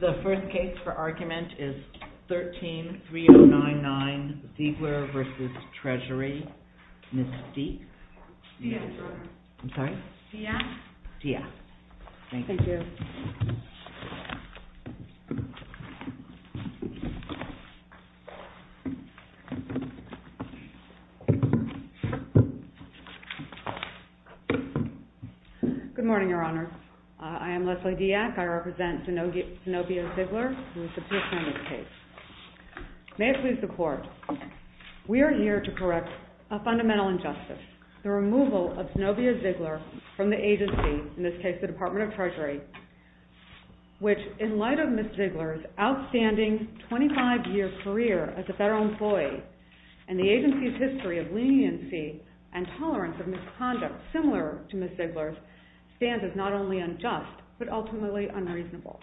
The first case for argument is 13-3099, Siegler v. Treasury. Ms. Steep? Yes. I'm sorry? Yes. Yes. Thank you. Thank you. Good morning, Your Honor. I am Leslie Dyack. I represent Zenobia Ziegler and this is the first time in this case. May I please report? We are here to correct a fundamental injustice, the removal of Zenobia Ziegler from the agency, in this case the Department of Treasury, which in light of Ms. Ziegler's outstanding 25-year career as a federal employee and the agency's history of leniency and tolerance of misconduct similar to Ms. Ziegler's, stands as not only unjust but ultimately unreasonable.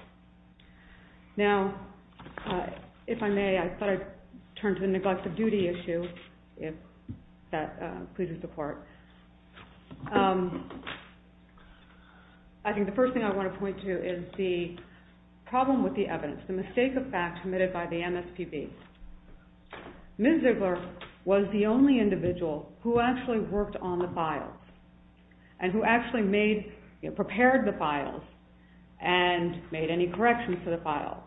Now, if I may, I thought I'd turn to the neglect of the evidence, the mistake of fact committed by the MSPB. Ms. Ziegler was the only individual who actually worked on the files and who actually made, prepared the files and made any corrections to the files.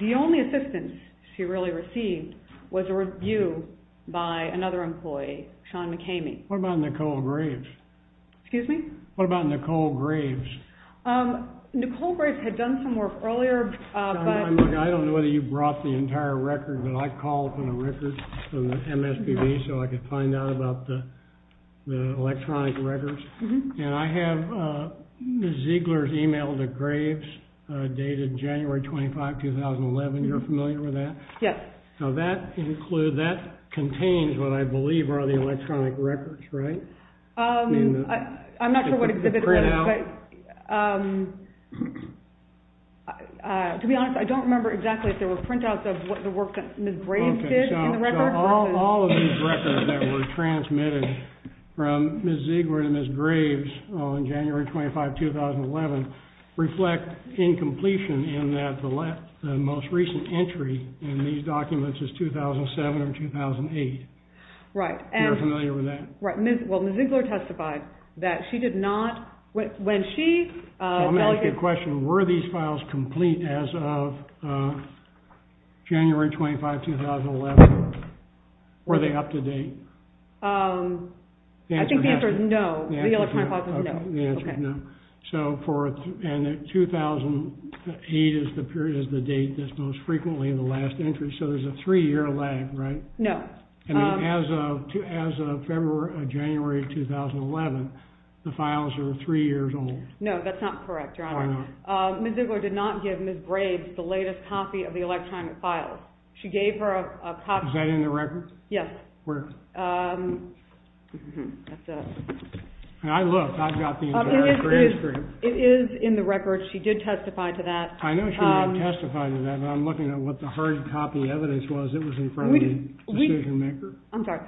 The only assistance she really received was a review by another employee, Sean McCamey. What about Nicole Graves? Excuse me? What about Nicole Graves? Nicole Graves had done some work earlier. I don't know whether you brought the entire record, but I called for the record from the MSPB so I could find out about the electronic records. And I have Ms. Ziegler's email to Graves dated January 25, 2011. You're familiar with that? Yes. So that includes, that contains what I believe are the electronic records, right? I'm not sure what exhibit it is. To be honest, I don't remember exactly if there were printouts of the work that Ms. Graves did in the record. Okay. So all of these records that were transmitted from Ms. Ziegler to Ms. Graves on January 25, 2011 reflect incompletion in that the most recent entry in these documents is 2007 or 2008. Right. You're familiar with that? Well, Ms. Ziegler testified that she did not, when she... I'm going to ask you a question. Were these files complete as of January 25, 2011? Were they up to date? I think the answer is no. The answer is no. The answer is no. Okay. The answer is no. So for 2008 is the period, is the date that's most frequently in the last entry. So there's a three-year lag, right? No. As of January 2011, the files are three years old. No, that's not correct, Your Honor. I know. Ms. Ziegler did not give Ms. Graves the latest copy of the electronic files. She gave her a copy... Is that in the record? Yes. Where? That's it. I looked. I've got the entire transcript. It is in the record. She did testify to that. I know she did testify to that, but I'm looking at what the hard copy evidence was. It was I'm sorry.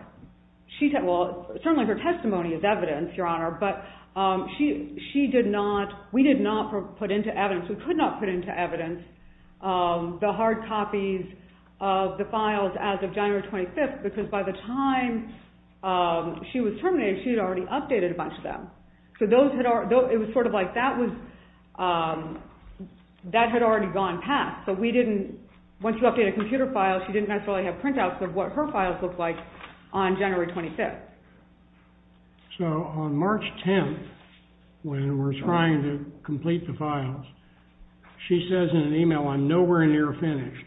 Well, certainly her testimony is evidence, Your Honor, but we did not put into evidence, we could not put into evidence the hard copies of the files as of January 25th because by the time she was terminated, she had already updated a bunch of them. So it was sort of like that had already gone past. So once you update a computer file, she didn't necessarily have printouts of what her files looked like on January 25th. So on March 10th, when we're trying to complete the files, she says in an email, I'm nowhere near finished.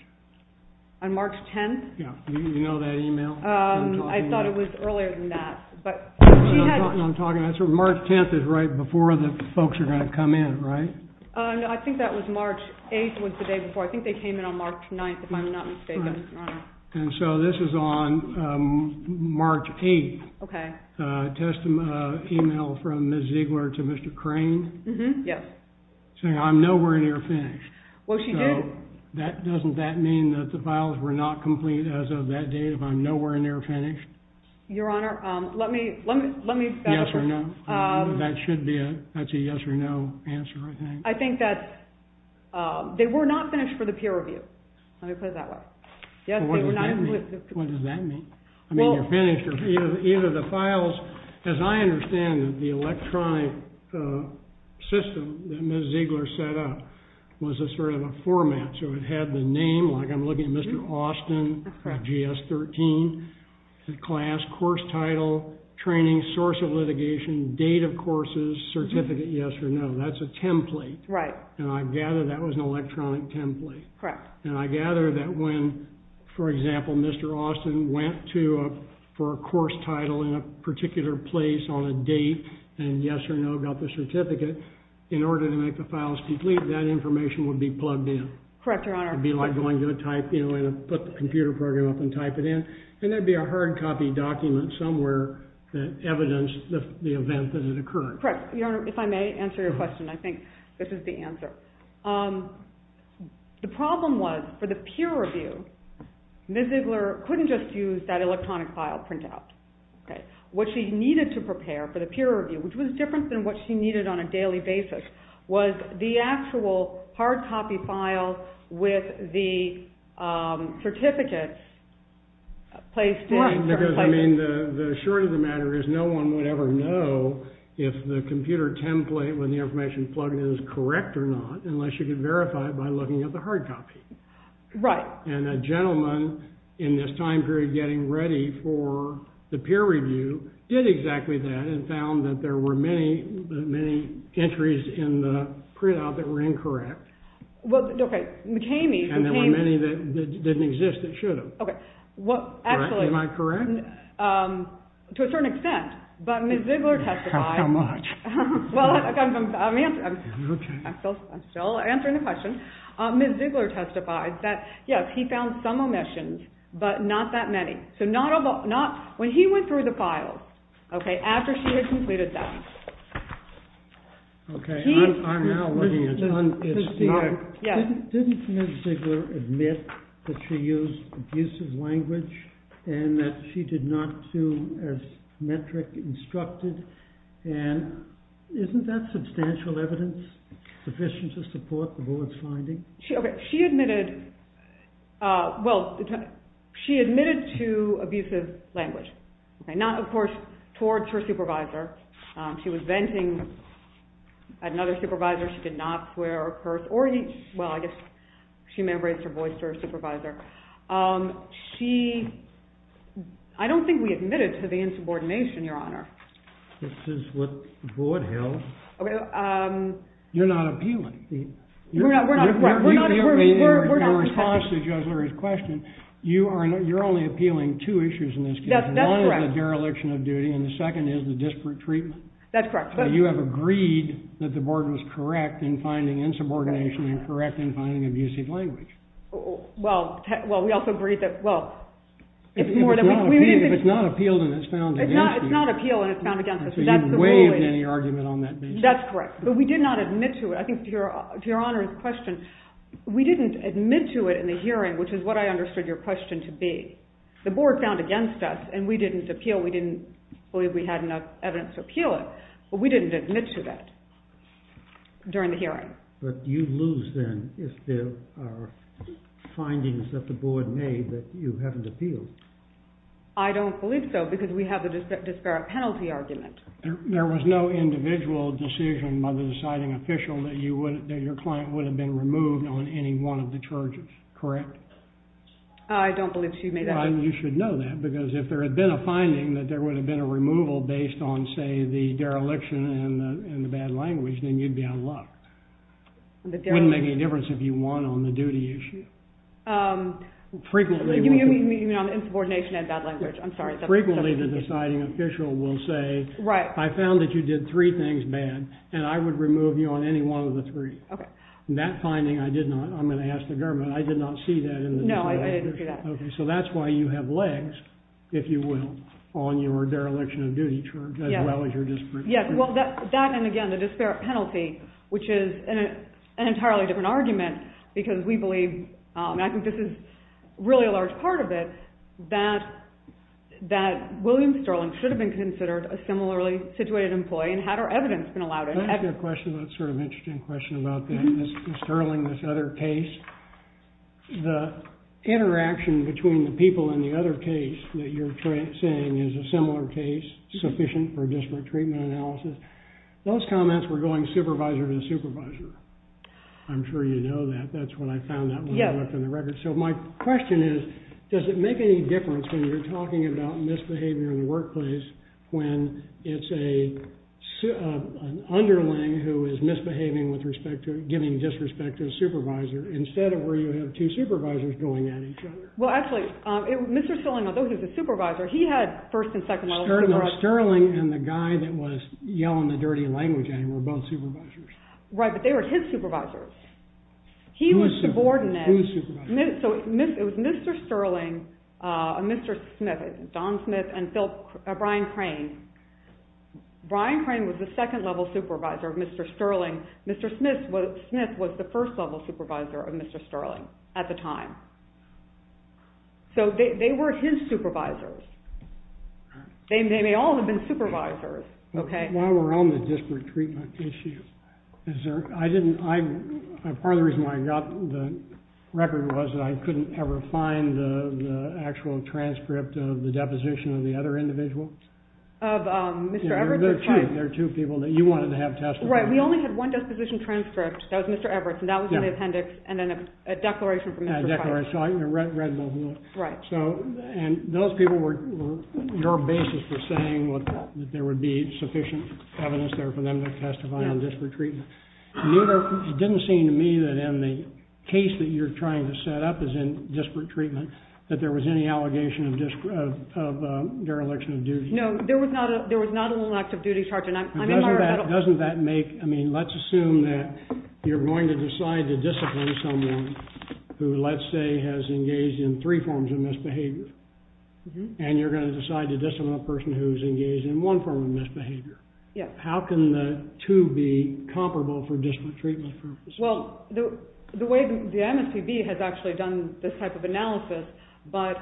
On March 10th? Yeah. You know that email? I thought it was earlier than that, but she had... That's what I'm talking about. March 10th is right before the folks are going to come in, right? I think that was March 8th was the day before. I think they came in on March 9th, if I'm not mistaken. And so this is on March 8th. Okay. Testimony email from Ms. Ziegler to Mr. Crane. Yes. Saying I'm nowhere near finished. Well, she did. Doesn't that mean that the files were not complete as of that date if I'm nowhere near finished? Your Honor, let me... Your Honor, that should be a yes or no answer, I think. I think that they were not finished for the peer review. Let me put it that way. What does that mean? I mean, you're finished. Either the files, as I understand it, the electronic system that Ms. Ziegler set up was a sort of a format. So it had the name, like I'm looking at Mr. Austin, GS-13, class, course title, training, source of litigation, date of courses, certificate, yes or no. That's a template. Right. And I gather that was an electronic template. Correct. And I gather that when, for example, Mr. Austin went for a course title in a particular place on a date and yes or no got the certificate, in order to make the files complete, that information would be plugged in. Correct, Your Honor. It would be like going to a type, you know, put the computer program up and type it in. And there would be a hard copy document somewhere that evidenced the event that it occurred. Correct. Your Honor, if I may answer your question, I think this is the answer. The problem was, for the peer review, Ms. Ziegler couldn't just use that electronic file printout. What she needed to prepare for the peer review, which was different than what she needed on a daily basis, was the actual hard copy file with the certificate placed in it. Because, I mean, the short of the matter is no one would ever know if the computer template with the information plugged in is correct or not, unless you could verify it by looking at the hard copy. Right. And a gentleman, in this time period getting ready for the peer review, did exactly that and found that there were many, many entries in the printout that were incorrect. Well, okay. McKamey. And there were many that didn't exist that should have. Okay. Well, actually. Am I correct? To a certain extent. But Ms. Ziegler testified. How much? Well, I'm still answering the question. Ms. Ziegler testified that, yes, he found some omissions, but not that many. So, not when he went through the file, okay, after she had completed that. Okay. I'm now looking at it. Didn't Ms. Ziegler admit that she used abusive language and that she did not do as Metric instructed? And isn't that substantial evidence sufficient to support the board's finding? Okay. She admitted, well, she admitted to abusive language. Okay. Not, of course, towards her supervisor. She was venting at another supervisor. She did not swear or curse or, well, I guess she may have raised her voice to her supervisor. She, I don't think we admitted to the insubordination, Your Honor. This is what the board held. You're not appealing. We're not. Your response to Judge Lurie's question, you're only appealing two issues in this case. That's correct. One is the dereliction of duty and the second is the disparate treatment. That's correct. You have agreed that the board was correct in finding insubordination and correct in finding abusive language. Well, we also agreed that, well, it's more than we. If it's not appealed and it's found against you. It's not appealed and it's found against us. So you've waived any argument on that basis. That's correct. But we did not admit to it. I think to Your Honor's question, we didn't admit to it in the hearing, which is what I understood your question to be. The board found against us and we didn't appeal. We didn't believe we had enough evidence to appeal it. But we didn't admit to that during the hearing. But you lose then if there are findings that the board made that you haven't appealed. I don't believe so because we have a disparate penalty argument. There was no individual decision by the deciding official that your client would have been removed on any one of the charges. Correct? I don't believe she made that decision. It wouldn't make any difference if you won on the duty issue. You mean on insubordination and bad language. I'm sorry. Frequently the deciding official will say, I found that you did three things bad and I would remove you on any one of the three. That finding I did not. I'm going to ask the government. I did not see that. No, I didn't see that. So that's why you have legs, if you will, on your dereliction of duty charge as well as your disparate penalty. Well, that and again the disparate penalty, which is an entirely different argument because we believe, and I think this is really a large part of it, that William Sterling should have been considered a similarly situated employee and had her evidence been allowed. I have a question that's sort of an interesting question about Sterling, this other case. The interaction between the people in the other case that you're saying is a similar case, sufficient for disparate treatment analysis. Those comments were going supervisor to supervisor. I'm sure you know that. That's what I found out when I looked in the records. So my question is, does it make any difference when you're talking about misbehavior in the workplace when it's an underling who is misbehaving with respect to giving disrespect to a supervisor, instead of where you have two supervisors going at each other? Well, actually, Mr. Sterling, although he was a supervisor, he had first and second levels. No, Sterling and the guy that was yelling the dirty language at him were both supervisors. Right, but they were his supervisors. He was subordinate. So it was Mr. Sterling, Mr. Smith, Don Smith, and Brian Crane. Brian Crane was the second level supervisor of Mr. Sterling. Mr. Smith was the first level supervisor of Mr. Sterling at the time. So they were his supervisors. They may all have been supervisors. While we're on the disparate treatment issue, part of the reason why I got the record was that I couldn't ever find the actual transcript of the deposition of the other individual. Of Mr. Everett? There are two people that you wanted to have testified. Right, we only had one disposition transcript. That was Mr. Everett's, and that was in the appendix, and then a declaration from Mr. Feinberg. Right. And those people were your basis for saying that there would be sufficient evidence there for them to testify on disparate treatment. It didn't seem to me that in the case that you're trying to set up as in disparate treatment that there was any allegation of dereliction of duty. No, there was not an elective duty charge. Let's assume that you're going to decide to discipline someone who, let's say, has engaged in three forms of misbehavior, and you're going to decide to discipline a person who's engaged in one form of misbehavior. How can the two be comparable for disparate treatment purposes? Well, the way the MSPB has actually done this type of analysis, but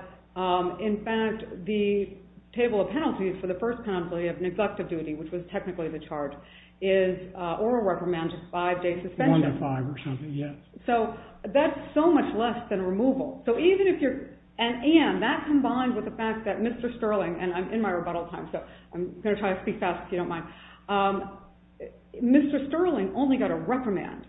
in fact, the table of penalties for the first penalty of neglect of duty, which was technically the charge, is oral reprimand, just five days suspension. One to five or something, yes. So that's so much less than removal. And that combines with the fact that Mr. Sterling, and I'm in my rebuttal time, so I'm going to try to speak fast if you don't mind, Mr. Sterling only got a reprimand.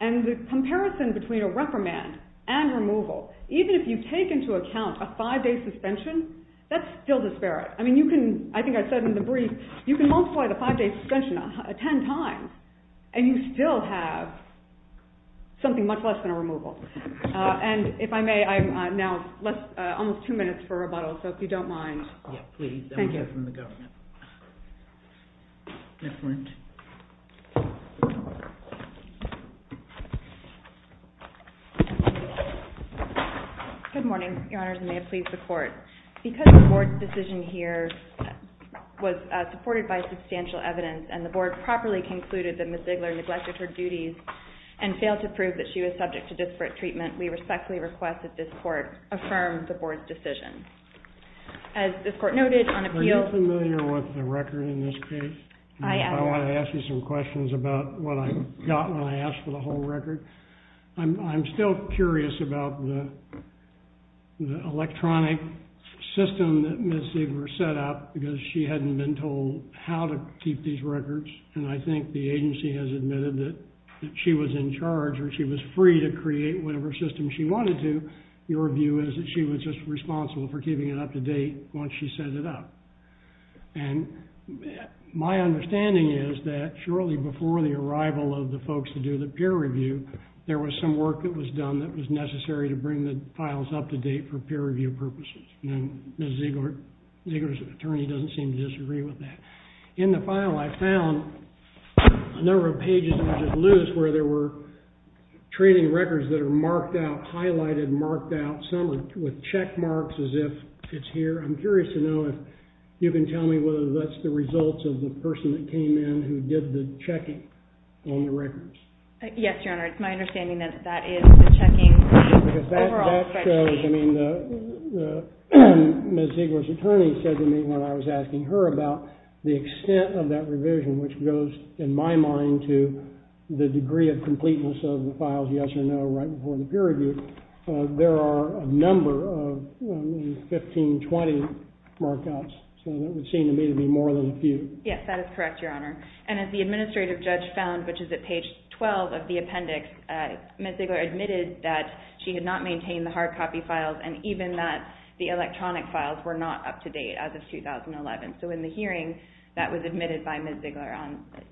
And the comparison between a reprimand and removal, even if you take into account a five-day suspension, that's still disparate. I think I said in the brief, you can multiply the five-day suspension 10 times, and you still have something much less than a removal. And if I may, I'm now almost two minutes for rebuttal, so if you don't mind. Yes, please. Thank you. I'll get it from the government. Excellent. Good morning, Your Honors, and may it please the Court. Because the Board's decision here was supported by substantial evidence, and the Board properly concluded that Ms. Ziegler neglected her duties and failed to prove that she was subject to disparate treatment, we respectfully request that this Court affirm the Board's decision. As this Court noted on appeal— Are you familiar with the record in this case? I am. I want to ask you some questions about what I got when I asked for the whole record. I'm still curious about the electronic system that Ms. Ziegler set up, because she hadn't been told how to keep these records. And I think the agency has admitted that she was in charge or she was free to create whatever system she wanted to. Your view is that she was just responsible for keeping it up to date once she set it up. And my understanding is that shortly before the arrival of the folks to do the peer review, there was some work that was done that was necessary to bring the files up to date for peer review purposes. And Ms. Ziegler's attorney doesn't seem to disagree with that. In the file, I found a number of pages that are just loose where there were training records that are marked out, highlighted, marked out, some with check marks as if it's here. I'm curious to know if you can tell me whether that's the result of the person that came in who did the checking on the records. Yes, Your Honor. It's my understanding that that is the checking. Because that shows, I mean, Ms. Ziegler's attorney said to me when I was asking her about the extent of that revision, which goes, in my mind, to the degree of completeness of the files, yes or no, right before the peer review, there are a number of 15, 20 markups. So that would seem to me to be more than a few. Yes, that is correct, Your Honor. And as the administrative judge found, which is at page 12 of the appendix, Ms. Ziegler admitted that she had not maintained the hard copy files and even that the electronic files were not up to date as of 2011. So in the hearing, that was admitted by Ms. Ziegler.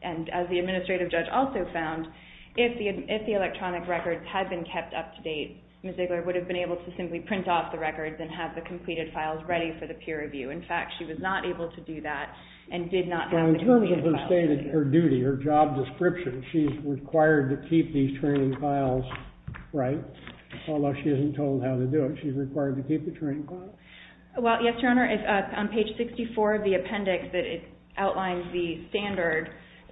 And as the administrative judge also found, if the electronic records had been kept up to date, Ms. Ziegler would have been able to simply print off the records and have the completed files ready for the peer review. In fact, she was not able to do that and did not have the completed files. Well, in terms of her stated duty, her job description, she's required to keep these training files right, although she isn't told how to do it. She's required to keep the training files? Well, yes, Your Honor. On page 64 of the appendix, it outlines the standard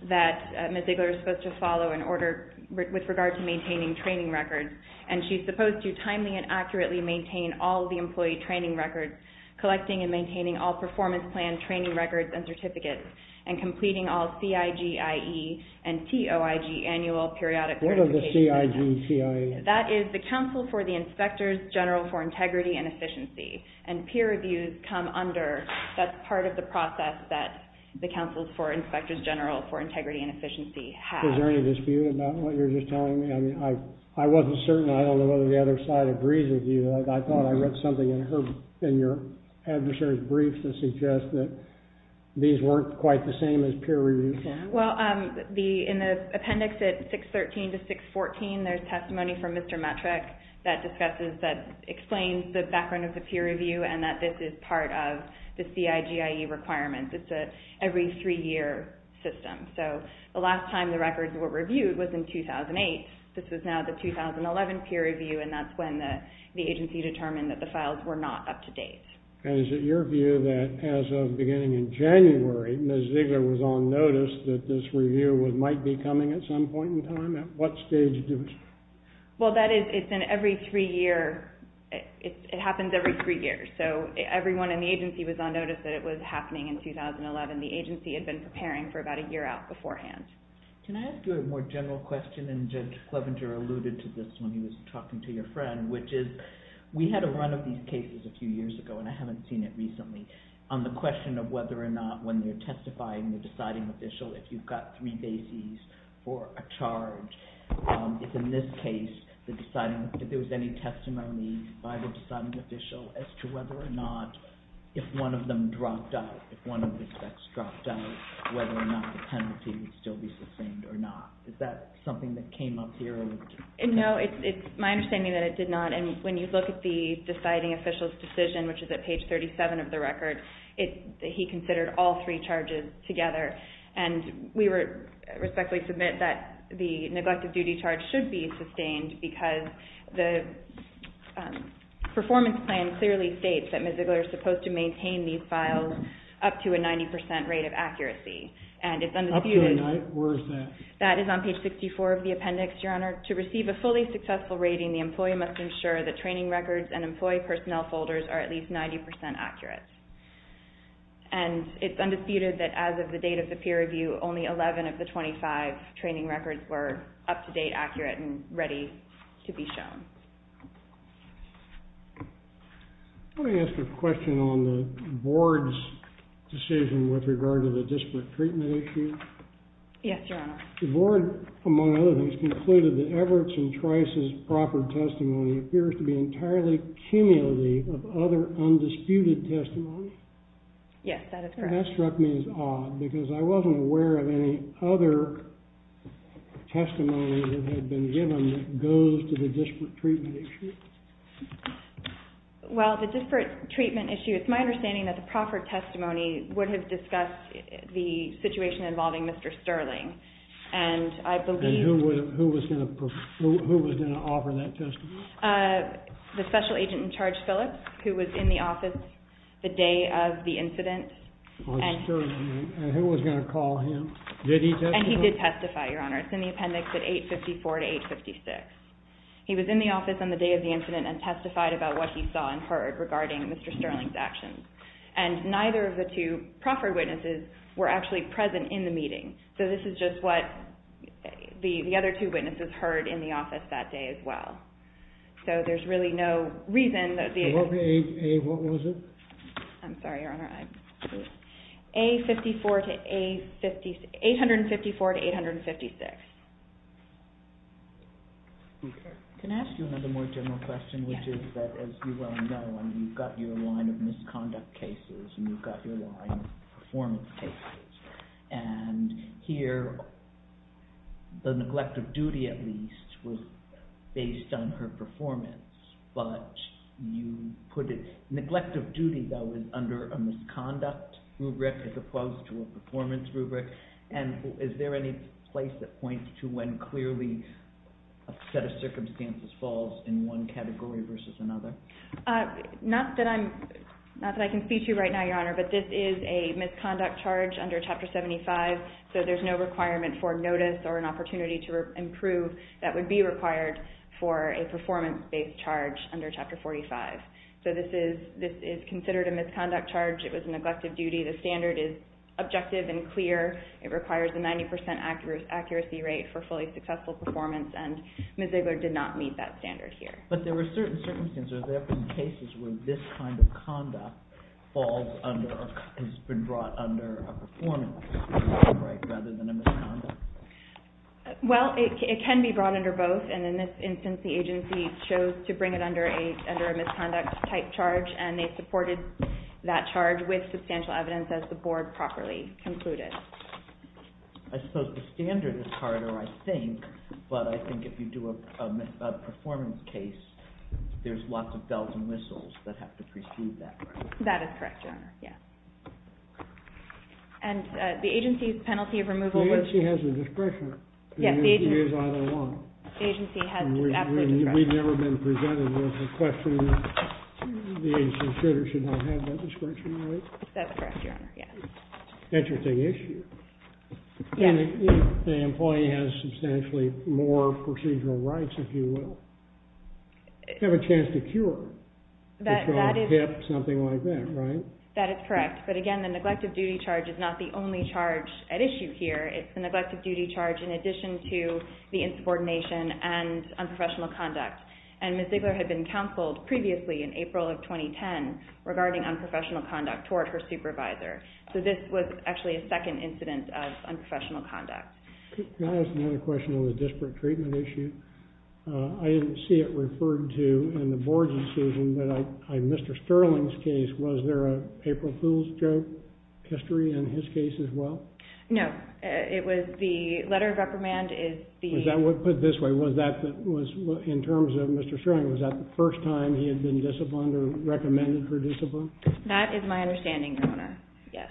that Ms. Ziegler is supposed to follow with regard to maintaining training records. And she's supposed to timely and accurately maintain all of the employee training records, collecting and maintaining all performance plan training records and certificates, and completing all CIGIE and TOIG annual periodic... What are the CIGIE? That is the Council for the Inspectors General for Integrity and Efficiency. And peer reviews come under. That's part of the process that the Council for Inspectors General for Integrity and Efficiency has. Is there any dispute about what you're just telling me? I mean, I wasn't certain. I don't know whether the other side agrees with you. I thought I read something in your adversary's brief that suggests that these weren't quite the same as peer review files. Well, in the appendix at 613 to 614, there's testimony from Mr. Metrick that explains the background of the peer review and that this is part of the CIGIE requirements. It's an every three-year system. So the last time the records were reviewed was in 2008. This is now the 2011 peer review, and that's when the agency determined that the files were not up to date. And is it your view that as of beginning in January, Ms. Ziegler was on notice that this review might be coming at some point in time? At what stage do we... Well, that is, it's an every three-year... It happens every three years, so everyone in the agency was on notice that it was happening in 2011. The agency had been preparing for about a year out beforehand. Can I ask you a more general question? And Judge Clevenger alluded to this when he was talking to your friend, which is we had a run of these cases a few years ago, and I haven't seen it recently, on the question of whether or not when you're testifying, the deciding official, if you've got three bases for a charge, if in this case, if there was any testimony by the deciding official as to whether or not if one of them dropped out, if one of the suspects dropped out, whether or not the penalty would still be sustained or not. Is that something that came up here? No, it's my understanding that it did not. And when you look at the deciding official's decision, which is at page 37 of the record, he considered all three charges together, and we respectfully submit that the neglected duty charge should be sustained because the performance plan clearly states that Ms. Ziegler is supposed to maintain these files up to a 90% rate of accuracy. Up to a 90%? Where is that? That is on page 64 of the appendix, Your Honor. Therefore, to receive a fully successful rating, the employee must ensure that training records and employee personnel folders are at least 90% accurate. And it's undisputed that as of the date of the peer review, only 11 of the 25 training records were up-to-date, accurate, and ready to be shown. Let me ask a question on the Board's decision with regard to the disparate treatment issue. Yes, Your Honor. The Board, among other things, concluded that Everett and Trice's proper testimony appears to be entirely cumulative of other undisputed testimony. Yes, that is correct. That struck me as odd because I wasn't aware of any other testimony that had been given that goes to the disparate treatment issue. Well, the disparate treatment issue, it's my understanding that the proper testimony would have discussed the situation involving Mr. Sterling. And who was going to offer that testimony? The special agent in charge, Phillips, who was in the office the day of the incident. And who was going to call him? Did he testify? And he did testify, Your Honor. It's in the appendix at 854 to 856. He was in the office on the day of the incident And neither of the two proffered witnesses were actually present in the meeting. So this is just what the other two witnesses heard in the office that day as well. So there's really no reason that the... What was it? I'm sorry, Your Honor. 854 to 856. Can I ask you another more general question? Which is that, as you well know, you've got your line of misconduct cases and you've got your line of performance cases. And here, the neglect of duty, at least, was based on her performance. But you put it... Neglect of duty, though, is under a misconduct rubric as opposed to a performance rubric. And is there any place that points to when clearly a set of circumstances falls in one category versus another? Not that I can speak to right now, Your Honor. But this is a misconduct charge under Chapter 75. So there's no requirement for notice or an opportunity to improve that would be required for a performance-based charge under Chapter 45. So this is considered a misconduct charge. It was a neglect of duty. The standard is objective and clear. It requires a 90% accuracy rate for fully successful performance, and Ms. Ziegler did not meet that standard here. But there were certain circumstances, there have been cases where this kind of conduct falls under or has been brought under a performance rubric rather than a misconduct. Well, it can be brought under both. And in this instance, the agency chose to bring it under a misconduct-type charge, and they supported that charge with substantial evidence as the Board properly concluded. I suppose the standard is harder, I think. But I think if you do a performance case, there's lots of bells and whistles that have to precede that. That is correct, Your Honor. And the agency's penalty of removal was… The agency has a discretion to use either one. The agency has absolutely discretion. We've never been presented with a question that the agency should or should not have that discretion, right? That's correct, Your Honor, yes. Interesting issue. And the employee has substantially more procedural rights, if you will. They have a chance to cure. That is correct. Something like that, right? But again, the neglect of duty charge is not the only charge at issue here. It's the neglect of duty charge in addition to the insubordination and unprofessional conduct. And Ms. Ziegler had been counseled previously in April of 2010 regarding unprofessional conduct toward her supervisor. So this was actually a second incident of unprofessional conduct. Can I ask another question on the disparate treatment issue? I didn't see it referred to in the Board's decision, but in Mr. Sterling's case, was there an April Fool's joke history in his case as well? No. It was the letter of reprimand is the... Put it this way, in terms of Mr. Sterling, was that the first time he had been disciplined or recommended her discipline? That is my understanding, Your Honor, yes.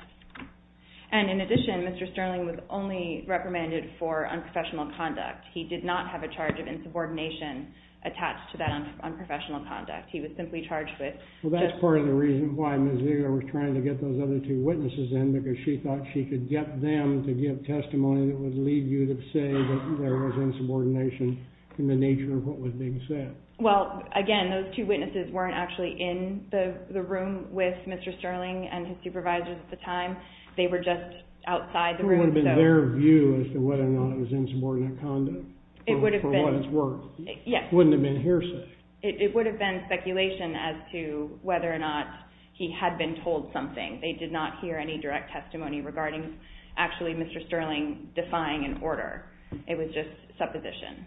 And in addition, Mr. Sterling was only reprimanded for unprofessional conduct. He did not have a charge of insubordination attached to that unprofessional conduct. He was simply charged with... Well, that's part of the reason why Ms. Ziegler was trying to get those other two witnesses in, because she thought she could get them to give testimony that would lead you to say that there was insubordination in the nature of what was being said. Well, again, those two witnesses weren't actually in the room with Mr. Sterling and his supervisors at the time. They were just outside the room. It would have been their view as to whether or not it was insubordinate conduct for what it's worth. Yes. It wouldn't have been hearsay. It would have been speculation as to whether or not he had been told something. They did not hear any direct testimony regarding actually Mr. Sterling defying an order. It was just supposition.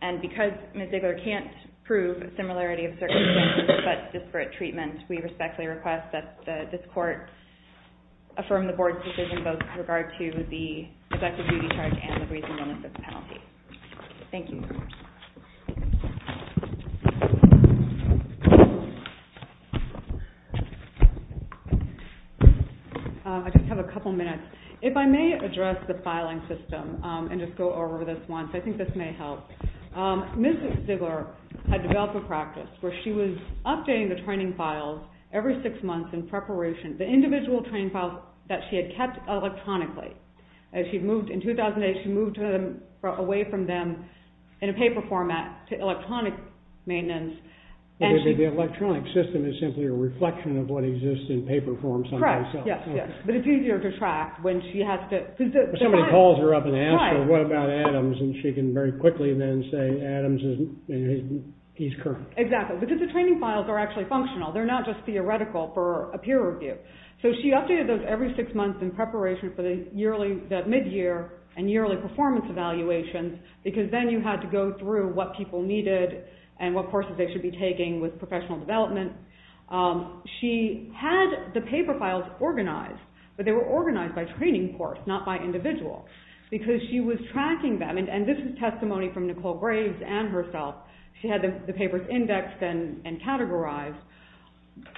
And because Ms. Ziegler can't prove a similarity of circumstances but disparate treatment, we respectfully request that this Court affirm the Board's decision both with regard to the effective duty charge and the reasonableness of the penalty. Thank you. I just have a couple minutes. If I may address the filing system and just go over this once, I think this may help. Ms. Ziegler had developed a practice where she was updating the training files every six months in preparation, the individual training files that she had kept electronically. In 2008, she moved them away from them in a paper format to electronic maintenance. The electronic system is simply a reflection of what exists in paper form sometimes. Correct, yes, yes. But it's easier to track when she has to. Somebody calls her up and asks her, what about Adams? And she can very quickly then say Adams is, he's current. Exactly. Because the training files are actually functional. They're not just theoretical for a peer review. So she updated those every six months in preparation for the mid-year and yearly performance evaluations because then you had to go through what people needed and what courses they should be taking with professional development. She had the paper files organized, but they were organized by training course, not by individual, because she was tracking them. And this is testimony from Nicole Graves and herself. She had the papers indexed and categorized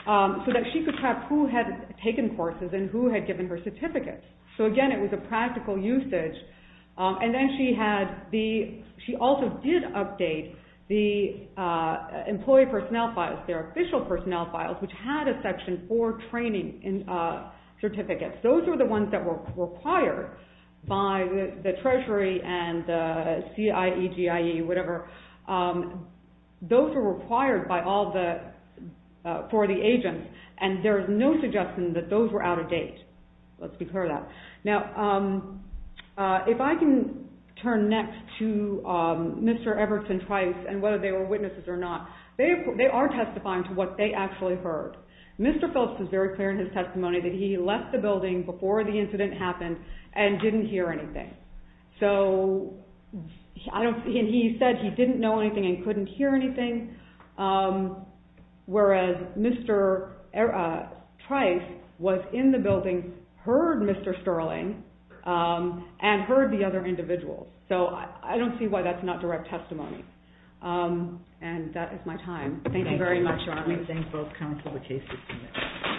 so that she could track who had taken courses and who had given her certificates. So again, it was a practical usage. And then she also did update the employee personnel files, their official personnel files, which had a section for training certificates. Those were the ones that were required by the Treasury and the CIEGIE, whatever. Those were required for the agents, and there's no suggestion that those were out of date. Let's be clear on that. Now, if I can turn next to Mr. Everton twice and whether they were witnesses or not, they are testifying to what they actually heard. Mr. Phillips was very clear in his testimony that he left the building before the incident happened and didn't hear anything. And he said he didn't know anything and couldn't hear anything, whereas Mr. Trice was in the building, heard Mr. Sterling, and heard the other individuals. So I don't see why that's not direct testimony. And that is my time. Thank you very much. I thank both counsel. The case is submitted.